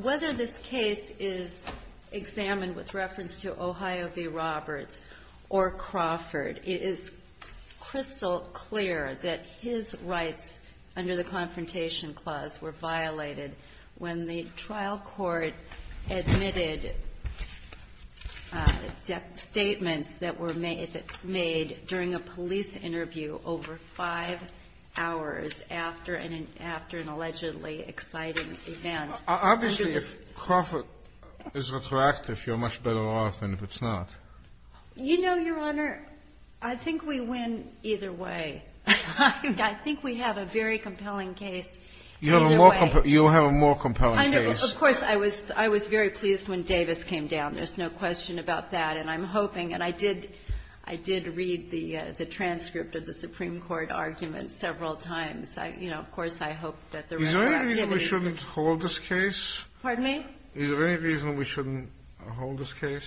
Whether this case is examined with reference to Ohio v. Roberts or Crawford, it is crystal clear that his rights under the Confrontation Clause were violated when the trial court admitted statements that were made during a police interview over five hours after an allegedly exciting event. Obviously, if Crawford is retroactive, you're much better off than if it's not. You know, Your Honor, I think we win either way. I think we have a very compelling case either way. You have a more compelling case. Of course, I was very pleased when Davis came down. There's no question about that. And I'm hoping, and I did read the transcript of the Supreme Court argument several times. You know, of course, I hope that the reactivity is the same. Is there any reason we shouldn't hold this case? Pardon me? Is there any reason we shouldn't hold this case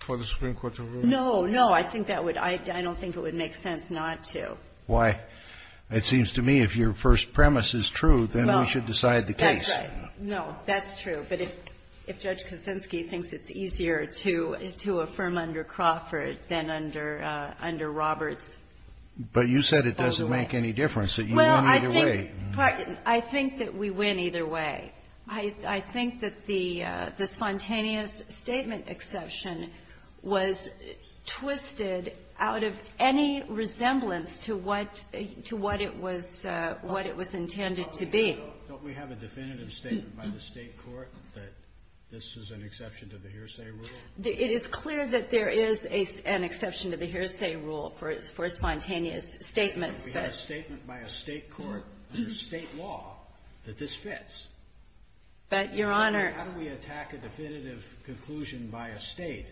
for the Supreme Court to rule? No, no. I think that would – I don't think it would make sense not to. Why? It seems to me if your first premise is true, then we should decide the case. That's right. No, that's true. But if Judge Kaczynski thinks it's easier to affirm under Crawford than under Roberts, then we'll do it. But you said it doesn't make any difference, that you won either way. Well, I think that we win either way. I think that the spontaneous statement exception was twisted out of any resemblance to what it was intended to be. Don't we have a definitive statement by the State court that this is an exception to the hearsay rule? It is clear that there is an exception to the hearsay rule for spontaneous statements. But we have a statement by a State court, under State law, that this fits. But, Your Honor — How do we attack a definitive conclusion by a State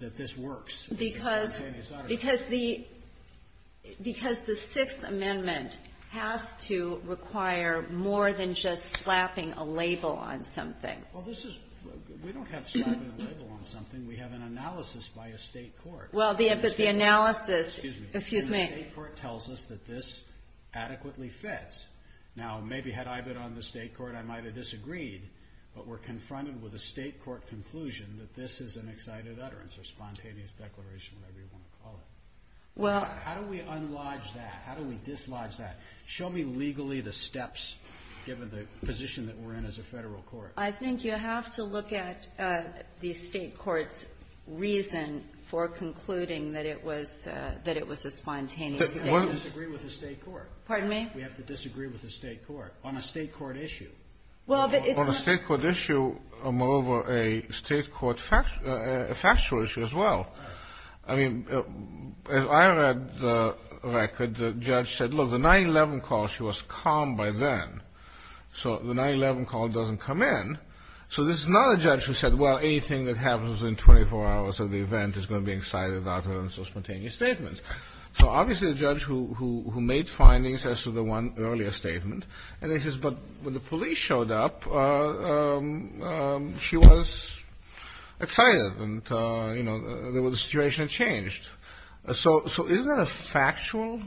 that this works? Because the Sixth Amendment has to require more than just slapping a label on something. Well, this is – we don't have slapping a label on something. We have an analysis by a State court. Well, the analysis – Excuse me. Excuse me. And the State court tells us that this adequately fits. Now, maybe had I been on the State court, I might have disagreed. But we're confronted with a State court conclusion that this is an excited utterance or spontaneous declaration, whatever you want to call it. Well – How do we unlodge that? How do we dislodge that? Show me legally the steps, given the position that we're in as a Federal court. I think you have to look at the State court's reason for concluding that it was – that it was a spontaneous statement. But we have to disagree with the State court. Pardon me? We have to disagree with the State court on a State court issue. Well, but it's not – It's a State court issue, moreover, a State court – a factual issue as well. I mean, as I read the record, the judge said, look, the 9-11 call, she was calm by then. So the 9-11 call doesn't come in. So this is not a judge who said, well, anything that happens within 24 hours of the event is going to be excited utterance or spontaneous statement. So obviously the judge who made findings as to the one earlier statement. And then he says, but when the police showed up, she was excited and, you know, the situation changed. So isn't that a factual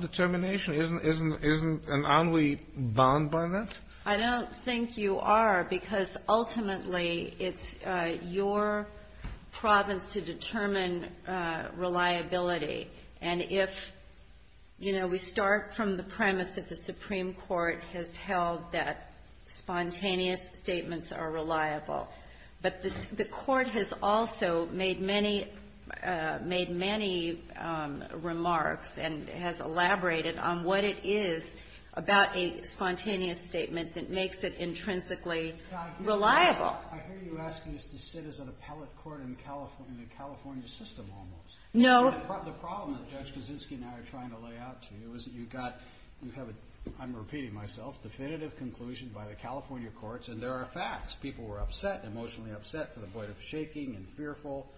determination? Isn't – isn't – isn't an ennui bound by that? I don't think you are, because ultimately it's your province to determine reliability. And if, you know, we start from the premise that the Supreme Court has held that spontaneous statements are reliable. But the court has also made many – made many remarks and has elaborated on what it is about a spontaneous statement that makes it intrinsically reliable. I hear you asking us to sit as an appellate court in the California system almost. No. The problem that Judge Kaczynski and I are trying to lay out to you is that you've got – you have a, I'm repeating myself, definitive conclusion by the California courts and there are facts. People were upset, emotionally upset to the point of shaking and fearful.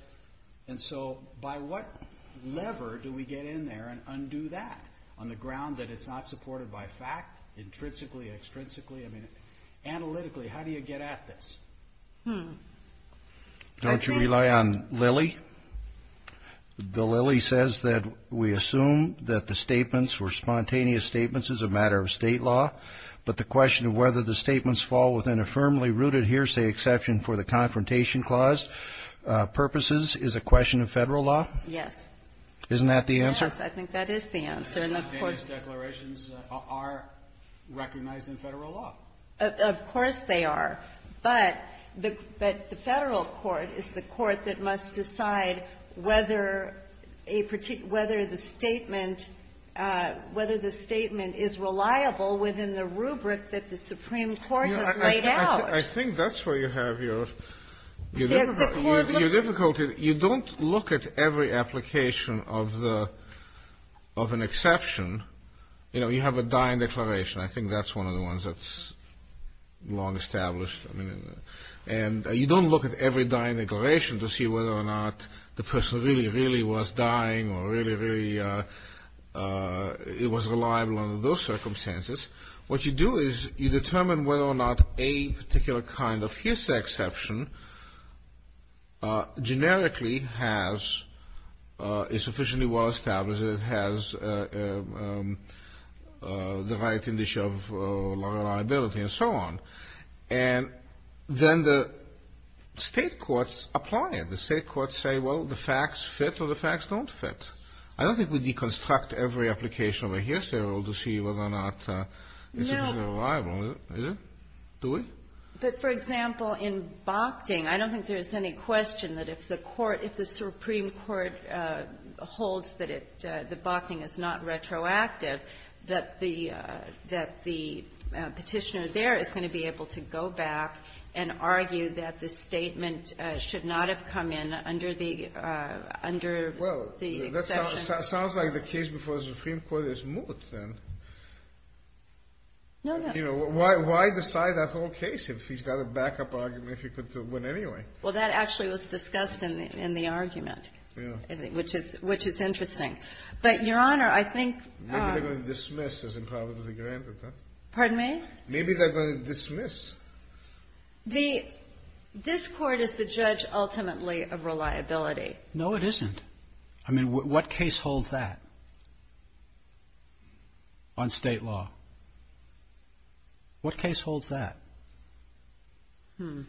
And so by what lever do we get in there and undo that on the ground that it's not supported by fact intrinsically, extrinsically? I mean, analytically, how do you get at this? Hmm. Don't you rely on Lilly? The Lilly says that we assume that the statements were spontaneous statements as a matter of State law. But the question of whether the statements fall within a firmly rooted hearsay exception for the Confrontation Clause purposes is a question of Federal law. Yes. Isn't that the answer? Yes, I think that is the answer. And of course – Spontaneous declarations are recognized in Federal law. Of course they are. But the Federal court is the court that must decide whether a particular – whether the statement – whether the statement is reliable within the rubric that the Supreme Court has laid out. I think that's where you have your difficulty. You don't look at every application of the – of an exception. You know, you have a dying declaration. I think that's one of the ones that's long established. And you don't look at every dying declaration to see whether or not the person really, really was dying or really, really was reliable under those circumstances. What you do is you determine whether or not a particular kind of hearsay exception generically has – is sufficiently well-established, has the right of liability and so on. And then the State courts apply it. The State courts say, well, the facts fit or the facts don't fit. I don't think we deconstruct every application of a hearsay rule to see whether or not it's reliable. Is it? Do we? But, for example, in Bochting, I don't think there's any question that if the court – if the Supreme Court holds that it – that Bochting is not retroactive, that the – that the Petitioner there is going to be able to go back and argue that the statement should not have come in under the – under the exception. Well, that sounds like the case before the Supreme Court is moot, then. No, no. You know, why decide that whole case if he's got a backup argument if he could win anyway? Well, that actually was discussed in the argument. Yeah. Which is – which is interesting. But, Your Honor, I think – Maybe they're going to dismiss as improbably granted, huh? Pardon me? Maybe they're going to dismiss. The – this Court is the judge ultimately of reliability. No, it isn't. I mean, what case holds that on state law? What case holds that? Hmm.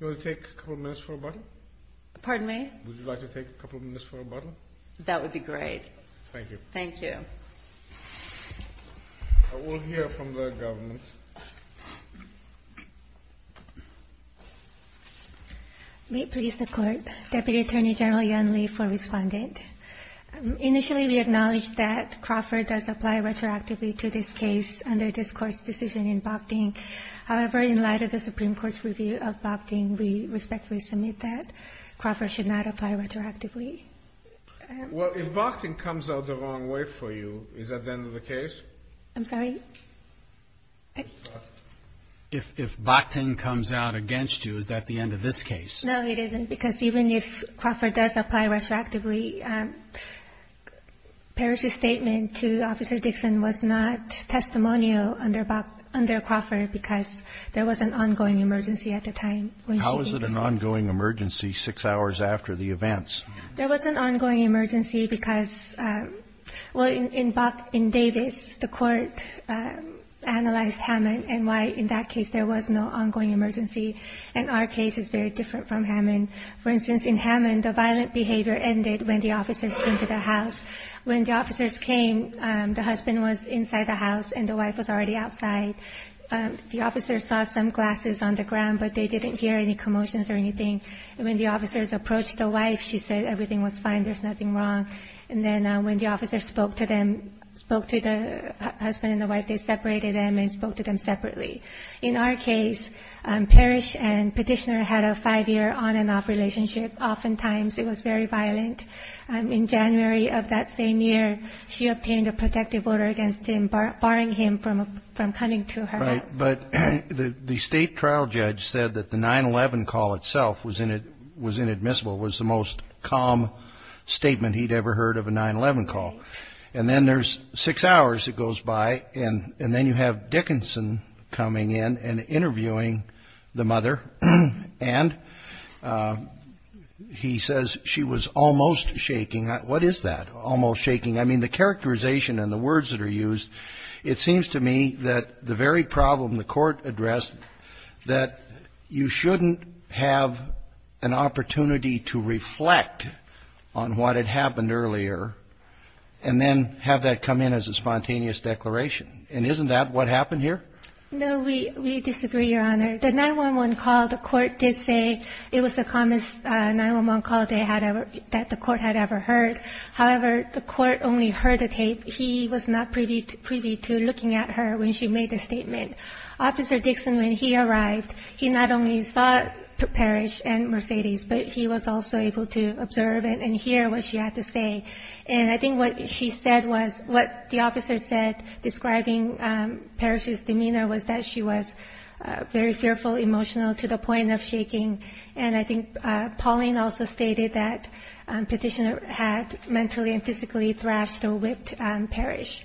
You want to take a couple minutes for a bottle? Pardon me? Would you like to take a couple minutes for a bottle? That would be great. Thank you. Thank you. I will hear from the government. May it please the Court. Deputy Attorney General Yun Lee for Respondent. Initially, we acknowledge that Crawford does apply retroactively to this case under this Court's decision in Bochting. However, in light of the Supreme Court's review of Bochting, we respectfully submit that Crawford should not apply retroactively. Well, if Bochting comes out the wrong way for you, is that the end of the case? I'm sorry? If Bochting comes out against you, is that the end of this case? No, it isn't, because even if Crawford does apply retroactively, Parrish's statement to Officer Dixon was not testimonial under Crawford because there was an ongoing emergency at the time. How is it an ongoing emergency six hours after the events? There was an ongoing emergency because, well, in Davis, the Court analyzed Hammond and why in that case there was no ongoing emergency. And our case is very different from Hammond. For instance, in Hammond, the violent behavior ended when the officers came to the house. When the officers came, the husband was inside the house and the wife was already outside. The officers saw some glasses on the ground, but they didn't hear any commotions or anything. And when the officers approached the wife, she said everything was fine, there's nothing wrong. And then when the officers spoke to them, spoke to the husband and the wife, they separated them and spoke to them separately. In our case, Parrish and Petitioner had a five-year on-and-off relationship. Oftentimes it was very violent. In January of that same year, she obtained a protective order against him, barring him from coming to her house. But the state trial judge said that the 9-11 call itself was inadmissible, was the most calm statement he'd ever heard of a 9-11 call. And then there's six hours that goes by, and then you have Dickinson coming in and interviewing the mother, and he says she was almost shaking. What is that, almost shaking? I mean, the characterization and the words that are used, it seems to me that the very problem the Court addressed, that you shouldn't have an opportunity to reflect on what had happened earlier and then have that come in as a spontaneous declaration. And isn't that what happened here? No, we disagree, Your Honor. The 9-11 call, the Court did say it was the calmest 9-11 call that the Court had ever heard. However, the Court only heard the tape. He was not privy to looking at her when she made the statement. Officer Dixon, when he arrived, he not only saw Parrish and Mercedes, but he was also able to observe and hear what she had to say. And I think what she said was, what the officer said, describing Parrish's demeanor, was that she was very fearful, emotional, to the point of shaking. And I think Pauline also stated that Petitioner had mentally and physically thrashed or whipped Parrish.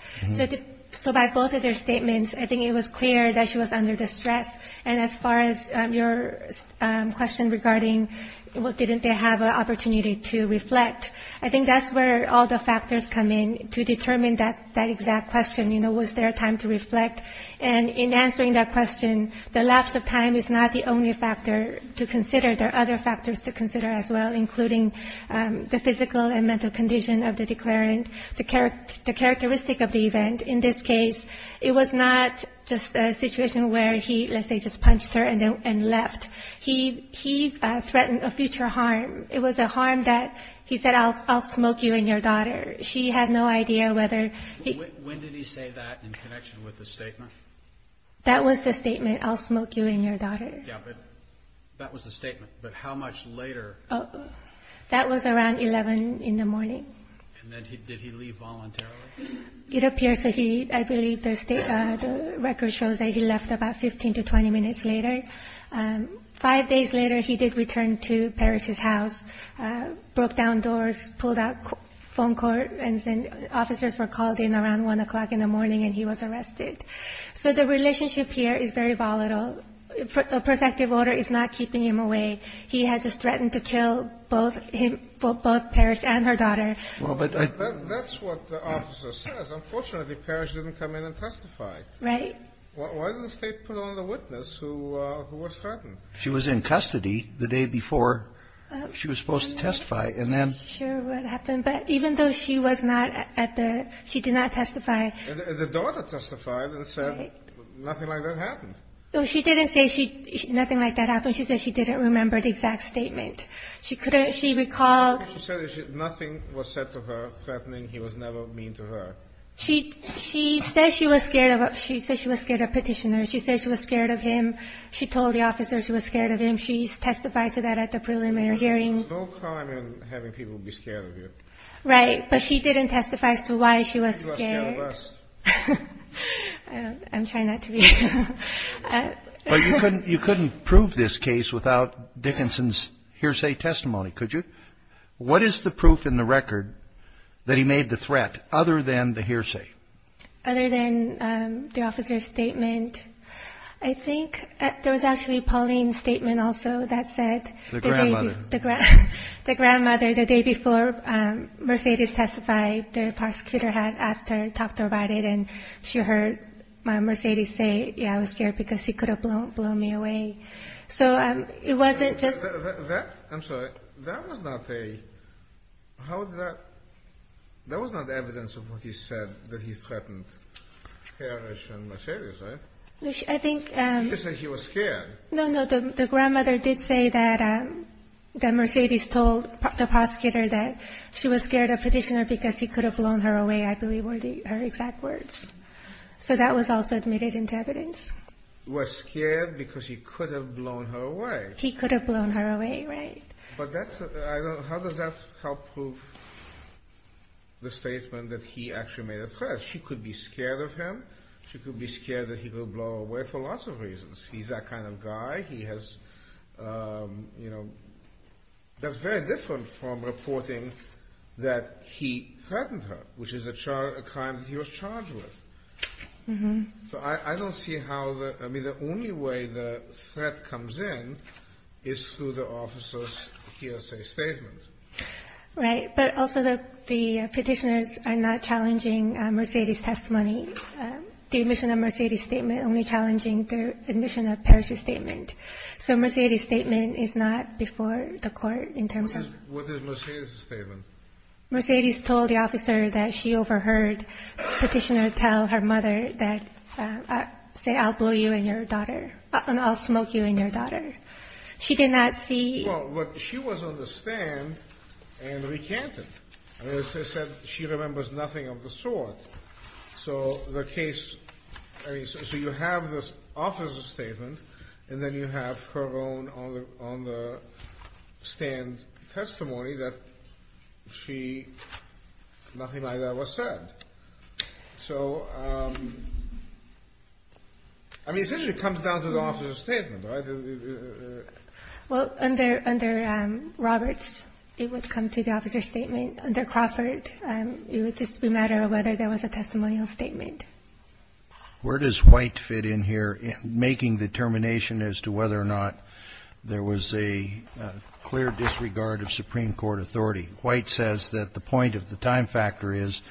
So by both of their statements, I think it was clear that she was under distress. And as far as your question regarding, well, didn't they have an opportunity to reflect, I think that's where all the factors come in to determine that exact question, you know, was there time to reflect. And in answering that question, the lapse of time is not the only factor to consider. There are other factors to consider as well, including the physical and mental condition of the declarant, the characteristic of the event. In this case, it was not just a situation where he, let's say, just punched her and left. He threatened a future harm. It was a harm that he said, I'll smoke you and your daughter. She had no idea whether he was going to do that. Was that in connection with the statement? That was the statement, I'll smoke you and your daughter. Yeah, but that was the statement. But how much later? That was around 11 in the morning. And then did he leave voluntarily? It appears that he, I believe the record shows that he left about 15 to 20 minutes later. Five days later, he did return to Parrish's house, broke down doors, pulled out the phone cord, and then officers were called in around 1 o'clock in the morning and he was arrested. So the relationship here is very volatile. A protective order is not keeping him away. He had just threatened to kill both him, both Parrish and her daughter. That's what the officer says. Unfortunately, Parrish didn't come in and testify. Right. Why didn't the State put on the witness who was threatened? She was in custody the day before she was supposed to testify. I'm not sure what happened. But even though she was not at the ‑‑ she did not testify. The daughter testified and said nothing like that happened. She didn't say nothing like that happened. She said she didn't remember the exact statement. She recalled ‑‑ She said nothing was said to her threatening he was never mean to her. She says she was scared of a petitioner. She says she was scared of him. She told the officer she was scared of him. She testified to that at the preliminary hearing. There's no crime in having people be scared of you. Right. But she didn't testify as to why she was scared. She was scared of us. I'm trying not to be. But you couldn't prove this case without Dickinson's hearsay testimony, could you? What is the proof in the record that he made the threat other than the hearsay? Other than the officer's statement. I think there was actually Pauline's statement also that said ‑‑ The grandmother, the day before Mercedes testified, the prosecutor had asked her, talked to her about it, and she heard Mercedes say, yeah, I was scared because he could have blown me away. So it wasn't just ‑‑ I'm sorry. That was not a ‑‑ How did that ‑‑ That was not evidence of what he said, that he threatened Harris and Mercedes, right? I think ‑‑ He just said he was scared. No, no. The grandmother did say that Mercedes told the prosecutor that she was scared of Petitioner because he could have blown her away, I believe, were her exact words. So that was also admitted into evidence. Was scared because he could have blown her away. He could have blown her away, right. But that's ‑‑ how does that help prove the statement that he actually made a threat? She could be scared of him. She could be scared that he will blow her away for lots of reasons. He's that kind of guy. He has, you know, that's very different from reporting that he threatened her, which is a crime that he was charged with. So I don't see how the ‑‑ I mean, the only way the threat comes in is through the officer's hearsay statement. Right. But also the Petitioners are not challenging Mercedes' testimony. The admission of Mercedes' statement only challenging the admission of Paris' statement. So Mercedes' statement is not before the court in terms of ‑‑ What is Mercedes' statement? Mercedes told the officer that she overheard Petitioner tell her mother that, say, I'll blow you and your daughter, I'll smoke you and your daughter. She did not see ‑‑ Well, what she was on the stand and recanted. She said she remembers nothing of the sort. So the case, I mean, so you have this officer's statement and then you have her own on the stand testimony that she, nothing like that was said. So, I mean, essentially it comes down to the officer's statement, right? Well, under Roberts, it would come to the officer's statement. Under Crawford, it would just be a matter of whether there was a testimonial statement. Where does White fit in here in making determination as to whether or not there was a clear disregard of Supreme Court authority? White says that the point of the time factor is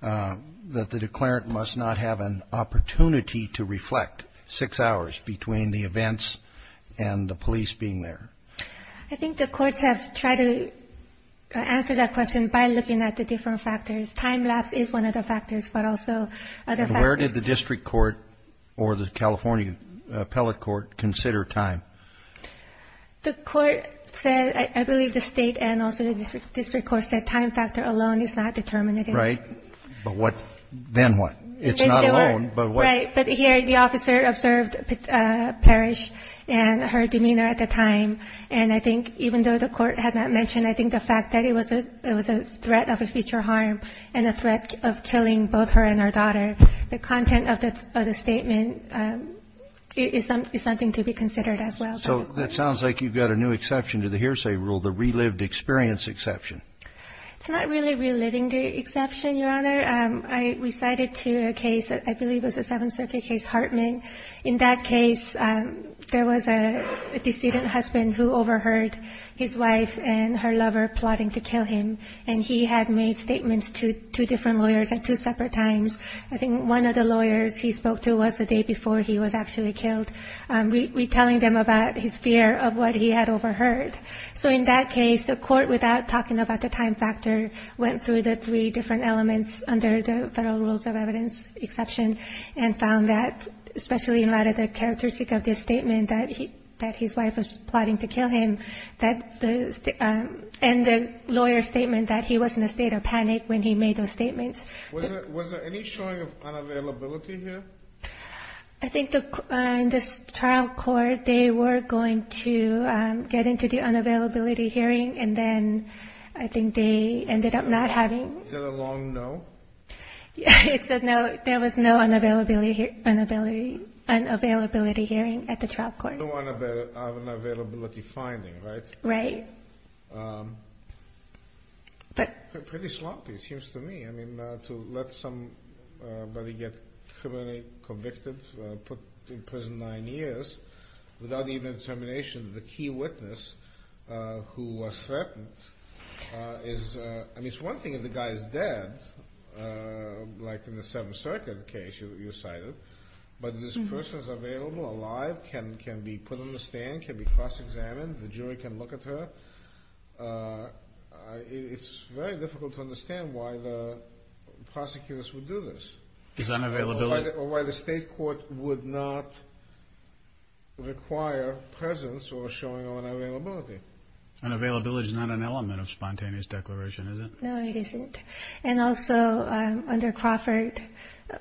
that the declarant must not have an opportunity to reflect six hours between the events and the police being there. I think the courts have tried to answer that question by looking at the different factors. Time lapse is one of the factors, but also other factors. Where did the district court or the California appellate court consider time? The court said, I believe the state and also the district courts, that time factor alone is not determinative. Right. But then what? It's not alone, but what? Right. But here the officer observed Parrish and her demeanor at the time, and I think even though the Court had not mentioned, I think the fact that it was a threat of a future harm and a threat of killing both her and her daughter, the content of the statement is something to be considered as well. So that sounds like you've got a new exception to the hearsay rule, the relived experience exception. It's not really reliving the exception, Your Honor. Your Honor, I recited to a case that I believe was a Seventh Circuit case, Hartman. In that case, there was a decedent husband who overheard his wife and her lover plotting to kill him, and he had made statements to two different lawyers at two separate times. I think one of the lawyers he spoke to was the day before he was actually killed, retelling them about his fear of what he had overheard. So in that case, the court, without talking about the time factor, went through the three different elements under the Federal Rules of Evidence exception and found that, especially in light of the characteristic of the statement that his wife was plotting to kill him, and the lawyer's statement that he was in a state of panic when he made those statements. Was there any showing of unavailability here? I think in this trial court, they were going to get into the unavailability hearing, and then I think they ended up not having. Is that a long no? It said no, there was no unavailability hearing at the trial court. No unavailability finding, right? Right. Pretty sloppy, it seems to me. I mean, to let somebody get criminally convicted, put in prison nine years, without even a determination, the key witness who was threatened is, I mean, it's one thing if the guy is dead, like in the Seventh Circuit case you cited, but this person is available, alive, can be put on the stand, can be cross-examined, the jury can look at her. It's very difficult to understand why the prosecutors would do this. Is that unavailability? Or why the state court would not require presence or showing of unavailability? Unavailability is not an element of spontaneous declaration, is it? No, it isn't. And also under Crawford,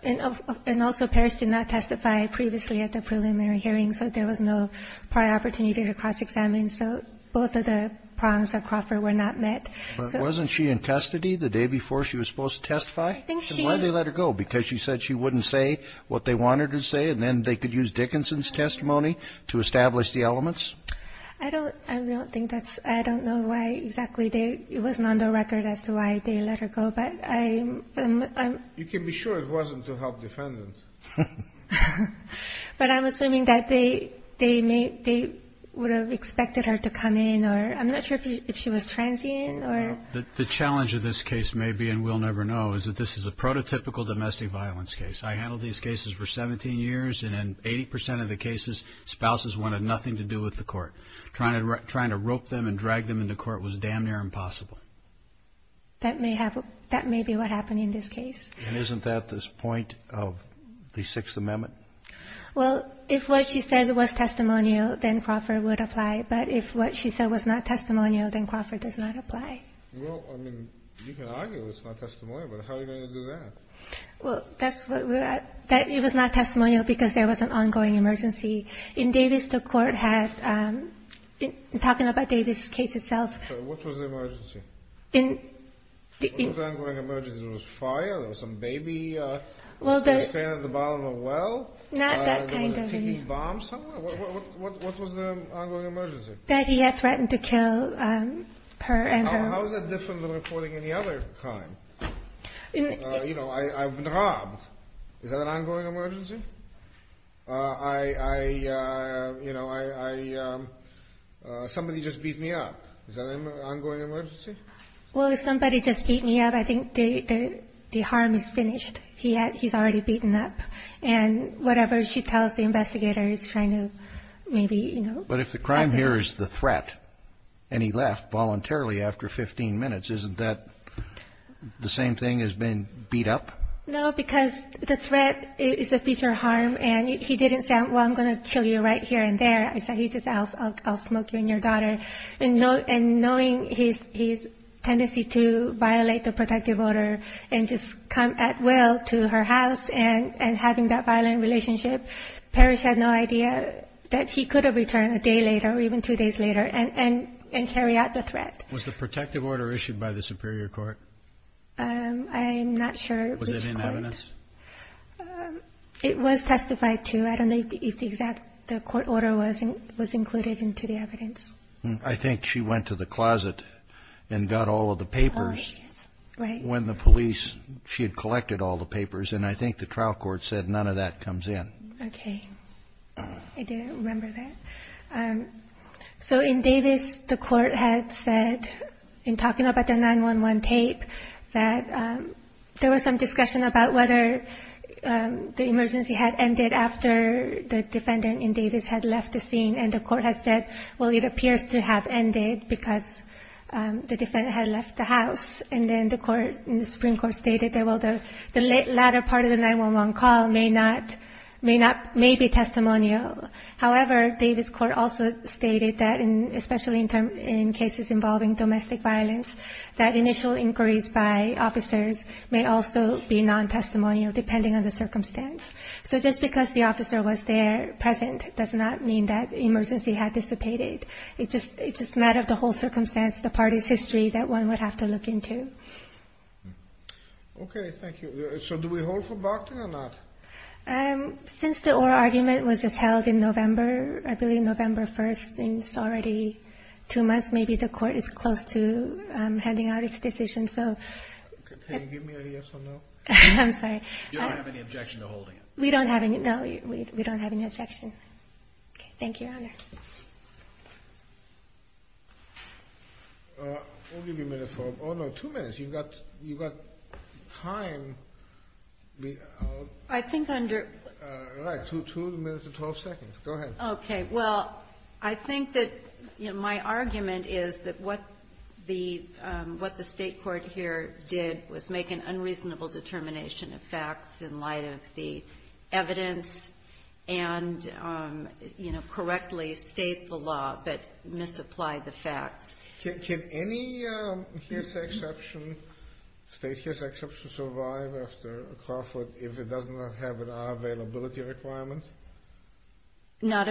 and also Parris did not testify previously at the preliminary hearing, so there was no prior opportunity to cross-examine. So both of the prongs of Crawford were not met. But wasn't she in custody the day before she was supposed to testify? And why did they let her go? Because she said she wouldn't say what they wanted her to say, and then they could use Dickinson's testimony to establish the elements? I don't think that's — I don't know why exactly they — it wasn't on the record as to why they let her go. But I'm — You can be sure it wasn't to help defendant. But I'm assuming that they would have expected her to come in, or I'm not sure if she was transient, or — The challenge of this case may be, and we'll never know, is that this is a prototypical domestic violence case. I handled these cases for 17 years, and in 80 percent of the cases, spouses wanted nothing to do with the court. Trying to rope them and drag them into court was damn near impossible. That may have — that may be what happened in this case. And isn't that this point of the Sixth Amendment? Well, if what she said was testimonial, then Crawford would apply. But if what she said was not testimonial, then Crawford does not apply. Well, I mean, you can argue it's not testimonial, but how are you going to do that? Well, that's what we're — it was not testimonial because there was an ongoing emergency. In Davis, the court had — talking about Davis' case itself — So what was the emergency? In — What was the ongoing emergency? There was fire? There was some baby standing at the bottom of a well? Not that kind of — There was a ticking bomb somewhere? What was the ongoing emergency? That he had threatened to kill her and her — How is that different than reporting any other crime? You know, I've been robbed. Is that an ongoing emergency? I — you know, I — somebody just beat me up. Is that an ongoing emergency? Well, if somebody just beat me up, I think the harm is finished. He's already beaten up. And whatever she tells the investigator is trying to maybe, you know — But if the crime here is the threat, and he left voluntarily after 15 minutes, isn't that the same thing as being beat up? No, because the threat is a future harm, and he didn't say, well, I'm going to kill you right here and there. He said, I'll smoke you and your daughter. And knowing his tendency to violate the protective order and just come at will to her house and having that violent relationship, Parrish had no idea that he could have returned a day later or even two days later and carry out the threat. Was the protective order issued by the superior court? I'm not sure which court. Was it in evidence? It was testified to. I don't know if the exact court order was included into the evidence. I think she went to the closet and got all of the papers. Oh, yes. Right. When the police — she had collected all the papers, and I think the trial court said none of that comes in. Okay. I didn't remember that. So in Davis, the court had said, in talking about the 9-1-1 tape, that there was some discussion about whether the emergency had ended after the defendant in Davis had left the scene, and the court had said, well, it appears to have ended because the defendant had left the house. And then the Supreme Court stated that, well, the latter part of the 9-1-1 call may be testimonial. However, Davis Court also stated that, especially in cases involving domestic violence, that initial inquiries by officers may also be non-testimonial, depending on the circumstance. So just because the officer was there, present, does not mean that emergency had dissipated. It's just a matter of the whole circumstance, the parties' history, that one would have to look into. Okay. Thank you. So do we hold for Bogdan or not? Since the oral argument was just held in November, I believe November 1st, and it's already two months, maybe the court is close to handing out its decision. Can you give me a yes or no? I'm sorry. You don't have any objection to holding it? We don't have any. No, we don't have any objection. Okay. Thank you, Your Honor. I'll give you a minute for them. Oh, no, two minutes. You've got time. I think under ---- All right. Two minutes and 12 seconds. Go ahead. Okay. Well, I think that my argument is that what the State court here did was make an unreasonable determination of facts in light of the evidence and, you know, correctly state the law, but misapply the facts. Can any hearsay exception, state hearsay exception survive after a Crawford if it does not have an unavailability requirement? Not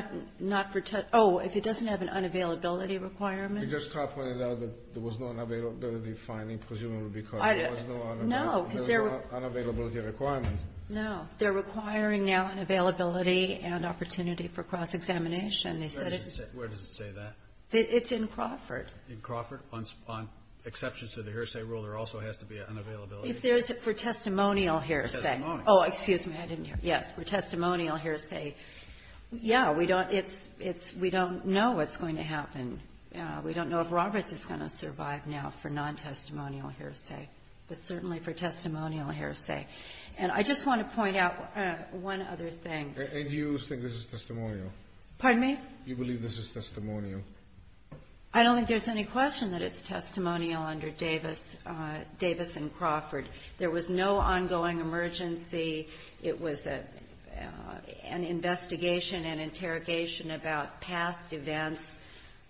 for ---- Oh, if it doesn't have an unavailability requirement? You just commented that there was no unavailability finding, presumably because there was no unavailability. No, because there were ---- There was no unavailability requirement. No. They're requiring now an availability and opportunity for cross-examination. They said it was ---- Where does it say that? It's in Crawford. In Crawford? On exceptions to the hearsay rule, there also has to be an unavailability? If there is for testimonial hearsay. Oh, excuse me. I didn't hear. Yes, for testimonial hearsay. Yeah, we don't ---- it's ---- we don't know what's going to happen. We don't know if Roberts is going to survive now for non-testimonial hearsay, but certainly for testimonial hearsay. And I just want to point out one other thing. And you think this is testimonial? Pardon me? You believe this is testimonial? I don't think there's any question that it's testimonial under Davis and Crawford. There was no ongoing emergency. It was an investigation and interrogation about past events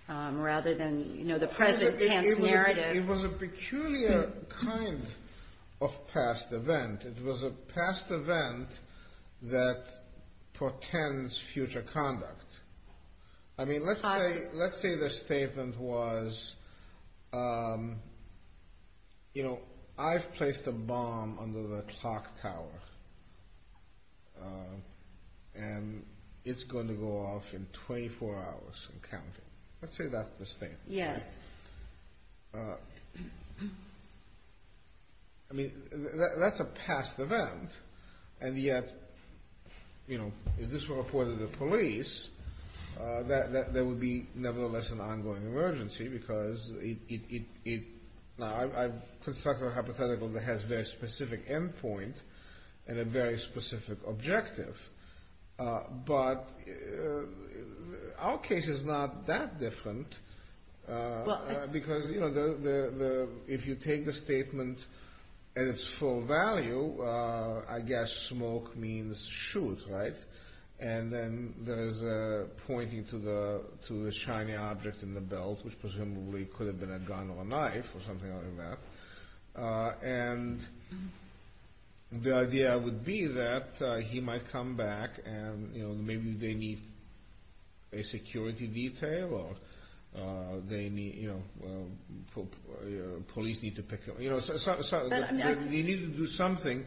rather than, you know, the present tense narrative. It was a peculiar kind of past event. It was a past event that portends future conduct. I mean, let's say the statement was, you know, I've placed a bomb under the clock tower, and it's going to go off in 24 hours and counting. Let's say that's the statement. Yes. I mean, that's a past event, and yet, you know, if this were reported to police, there would be nevertheless an ongoing emergency because it ---- now I've constructed a hypothetical that has a very specific end point and a very specific objective. But our case is not that different because, you know, if you take the statement at its full value, I guess smoke means shoot, right? And then there's pointing to the shiny object in the belt, which presumably could have been a gun or a knife or something like that. And the idea would be that he might come back and, you know, maybe they need a security detail or they need, you know, police need to pick him up. You know, they need to do something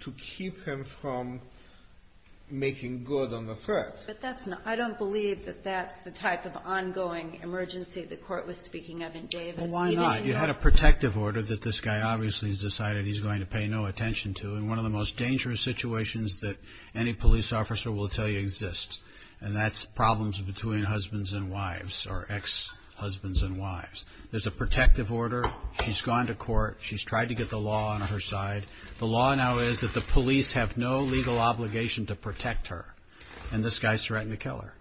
to keep him from making good on the threat. But that's not ---- I don't believe that that's the type of ongoing emergency the court was speaking of in Davis. Well, why not? You had a protective order that this guy obviously has decided he's going to pay no attention to in one of the most dangerous situations that any police officer will tell you exists, and that's problems between husbands and wives or ex-husbands and wives. There's a protective order. She's gone to court. She's tried to get the law on her side. The law now is that the police have no legal obligation to protect her, and this guy's threatening to kill her.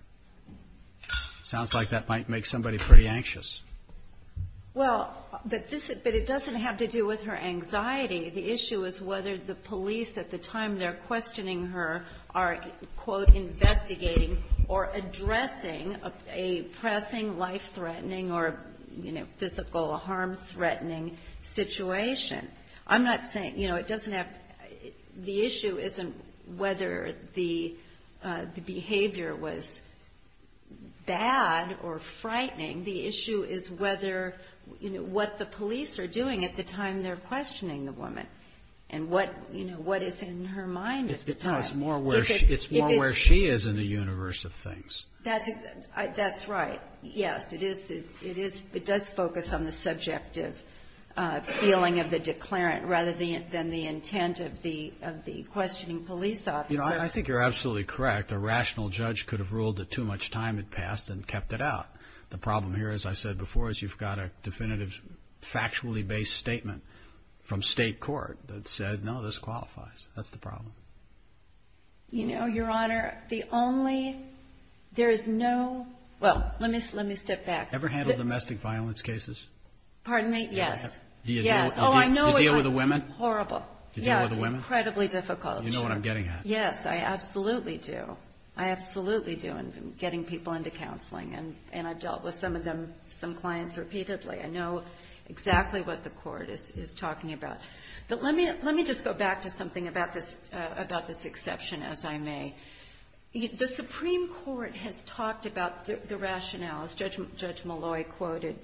Sounds like that might make somebody pretty anxious. Well, but this ---- but it doesn't have to do with her anxiety. The issue is whether the police at the time they're questioning her are, quote, investigating or addressing a pressing, life-threatening or, you know, physical harm-threatening situation. I'm not saying ---- you know, it doesn't have ---- the issue isn't whether the behavior was bad or frightening. The issue is whether, you know, what the police are doing at the time they're questioning the woman and what, you know, what is in her mind at the time. No, it's more where she is in the universe of things. That's right. Yes, it is. It does focus on the subjective feeling of the declarant rather than the intent of the questioning police officer. You know, I think you're absolutely correct. A rational judge could have ruled that too much time had passed and kept it out. The problem here, as I said before, is you've got a definitive, factually-based statement from state court that said, no, this qualifies. That's the problem. You know, Your Honor, the only ---- there is no ---- well, let me step back. Ever handled domestic violence cases? Pardon me? Yes. Yes. Do you deal with the women? Horrible. Do you deal with the women? Incredibly difficult. You know what I'm getting at. Yes, I absolutely do. I'm getting people into counseling, and I've dealt with some of them, some clients repeatedly. I know exactly what the court is talking about. But let me just go back to something about this exception, as I may. The Supreme Court has talked about the rationales. Judge Malloy quoted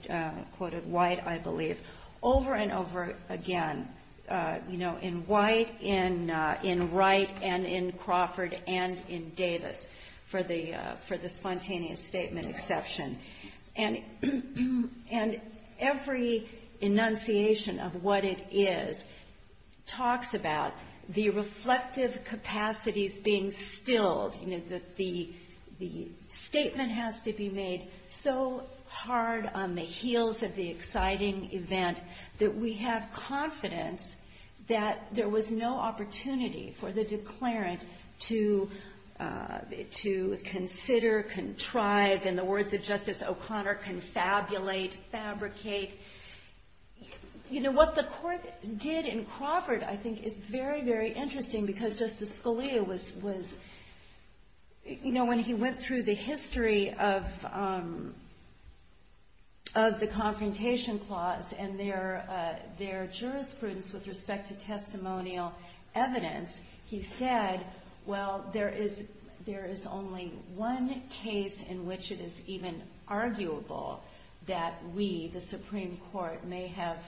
White, I believe, over and over again. You know, in White, in Wright, and in Crawford, and in Davis, for the spontaneous statement exception. And every enunciation of what it is talks about the reflective capacities being stilled, you know, that the statement has to be made so hard on the heels of the evidence, that there was no opportunity for the declarant to consider, contrive, in the words of Justice O'Connor, confabulate, fabricate. You know, what the court did in Crawford, I think, is very, very interesting, because Justice Scalia was, you know, when he went through the history of the Confrontation Clause and their jurisprudence with respect to testimonial evidence, he said, well, there is only one case in which it is even arguable that we, the Supreme Court, may have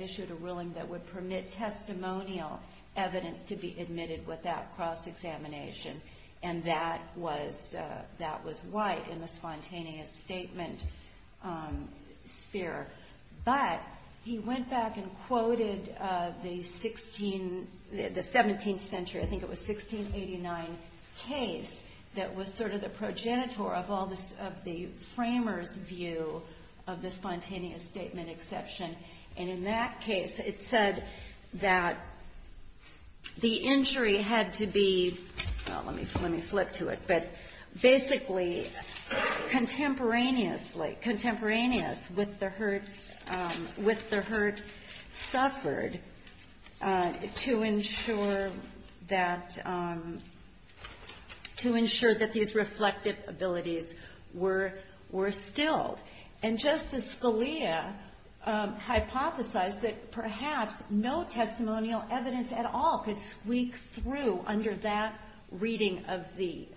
issued a ruling that would permit testimonial evidence to be admitted without cross-examination. And that was White in the spontaneous statement sphere. But he went back and quoted the 17th century, I think it was 1689, case that was sort of the progenitor of all this, of the framer's view of the spontaneous statement exception. And in that case, it said that the injury had to be, well, let me see. Let me flip to it, but basically contemporaneously, contemporaneous with the hurt suffered to ensure that these reflective abilities were stilled. And Justice Scalia hypothesized that perhaps no testimonial evidence at all could squeak through under that reading of the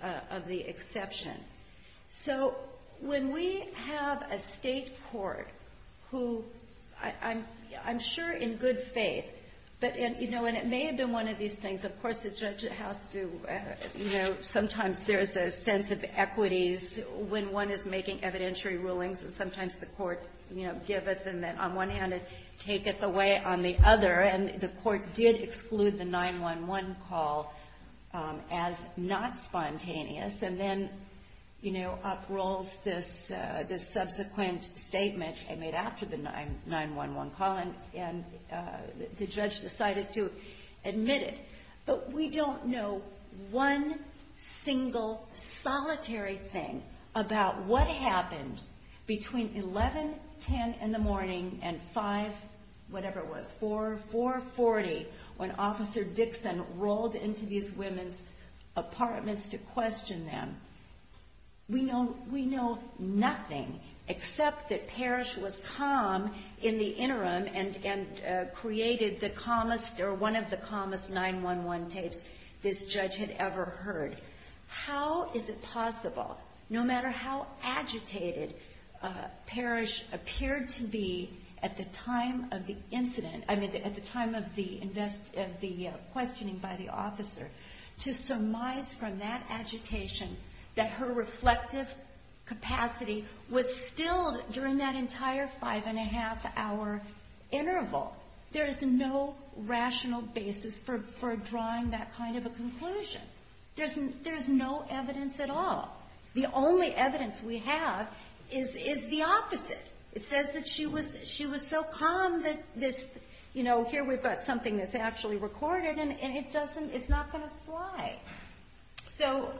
exception. So when we have a State court who, I'm sure in good faith, but, you know, and it may have been one of these things. Of course, the judge has to, you know, sometimes there is a sense of equities when one is making evidentiary rulings, and sometimes the court, you know, give it and then on one hand and take it away on the other. And the court did exclude the 911 call as not spontaneous. And then, you know, uprolls this subsequent statement made after the 911 call, and the judge decided to admit it. But we don't know one single solitary thing about what happened between 11, 10, and the morning and 5, whatever it was, 4, 440 when Officer Dixon rolled into these women's apartments to question them. We know nothing except that Parrish was calm in the interim and created the calmest or one of the calmest 911 tapes this judge had ever heard. How is it possible, no matter how agitated Parrish appeared to be, at the time of the incident, I mean at the time of the questioning by the officer, to surmise from that agitation that her reflective capacity was still during that entire five and a half hour interval? There is no rational basis for drawing that kind of a conclusion. There is no evidence at all. The only evidence we have is the opposite. It says that she was so calm that this, you know, here we've got something that's actually recorded, and it doesn't, it's not going to fly. So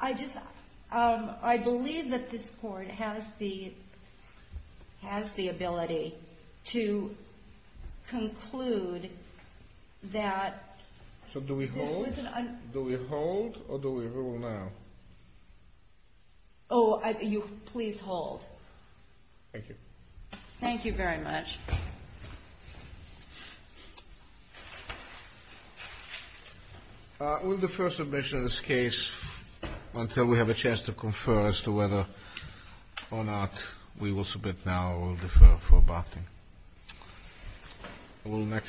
I just, I believe that this court has the ability to conclude that... So do we hold? Do we hold, or do we rule now? Oh, you, please hold. Thank you. Thank you very much. We'll defer submission of this case until we have a chance to confer as to whether or not we will submit now. We'll defer for abating.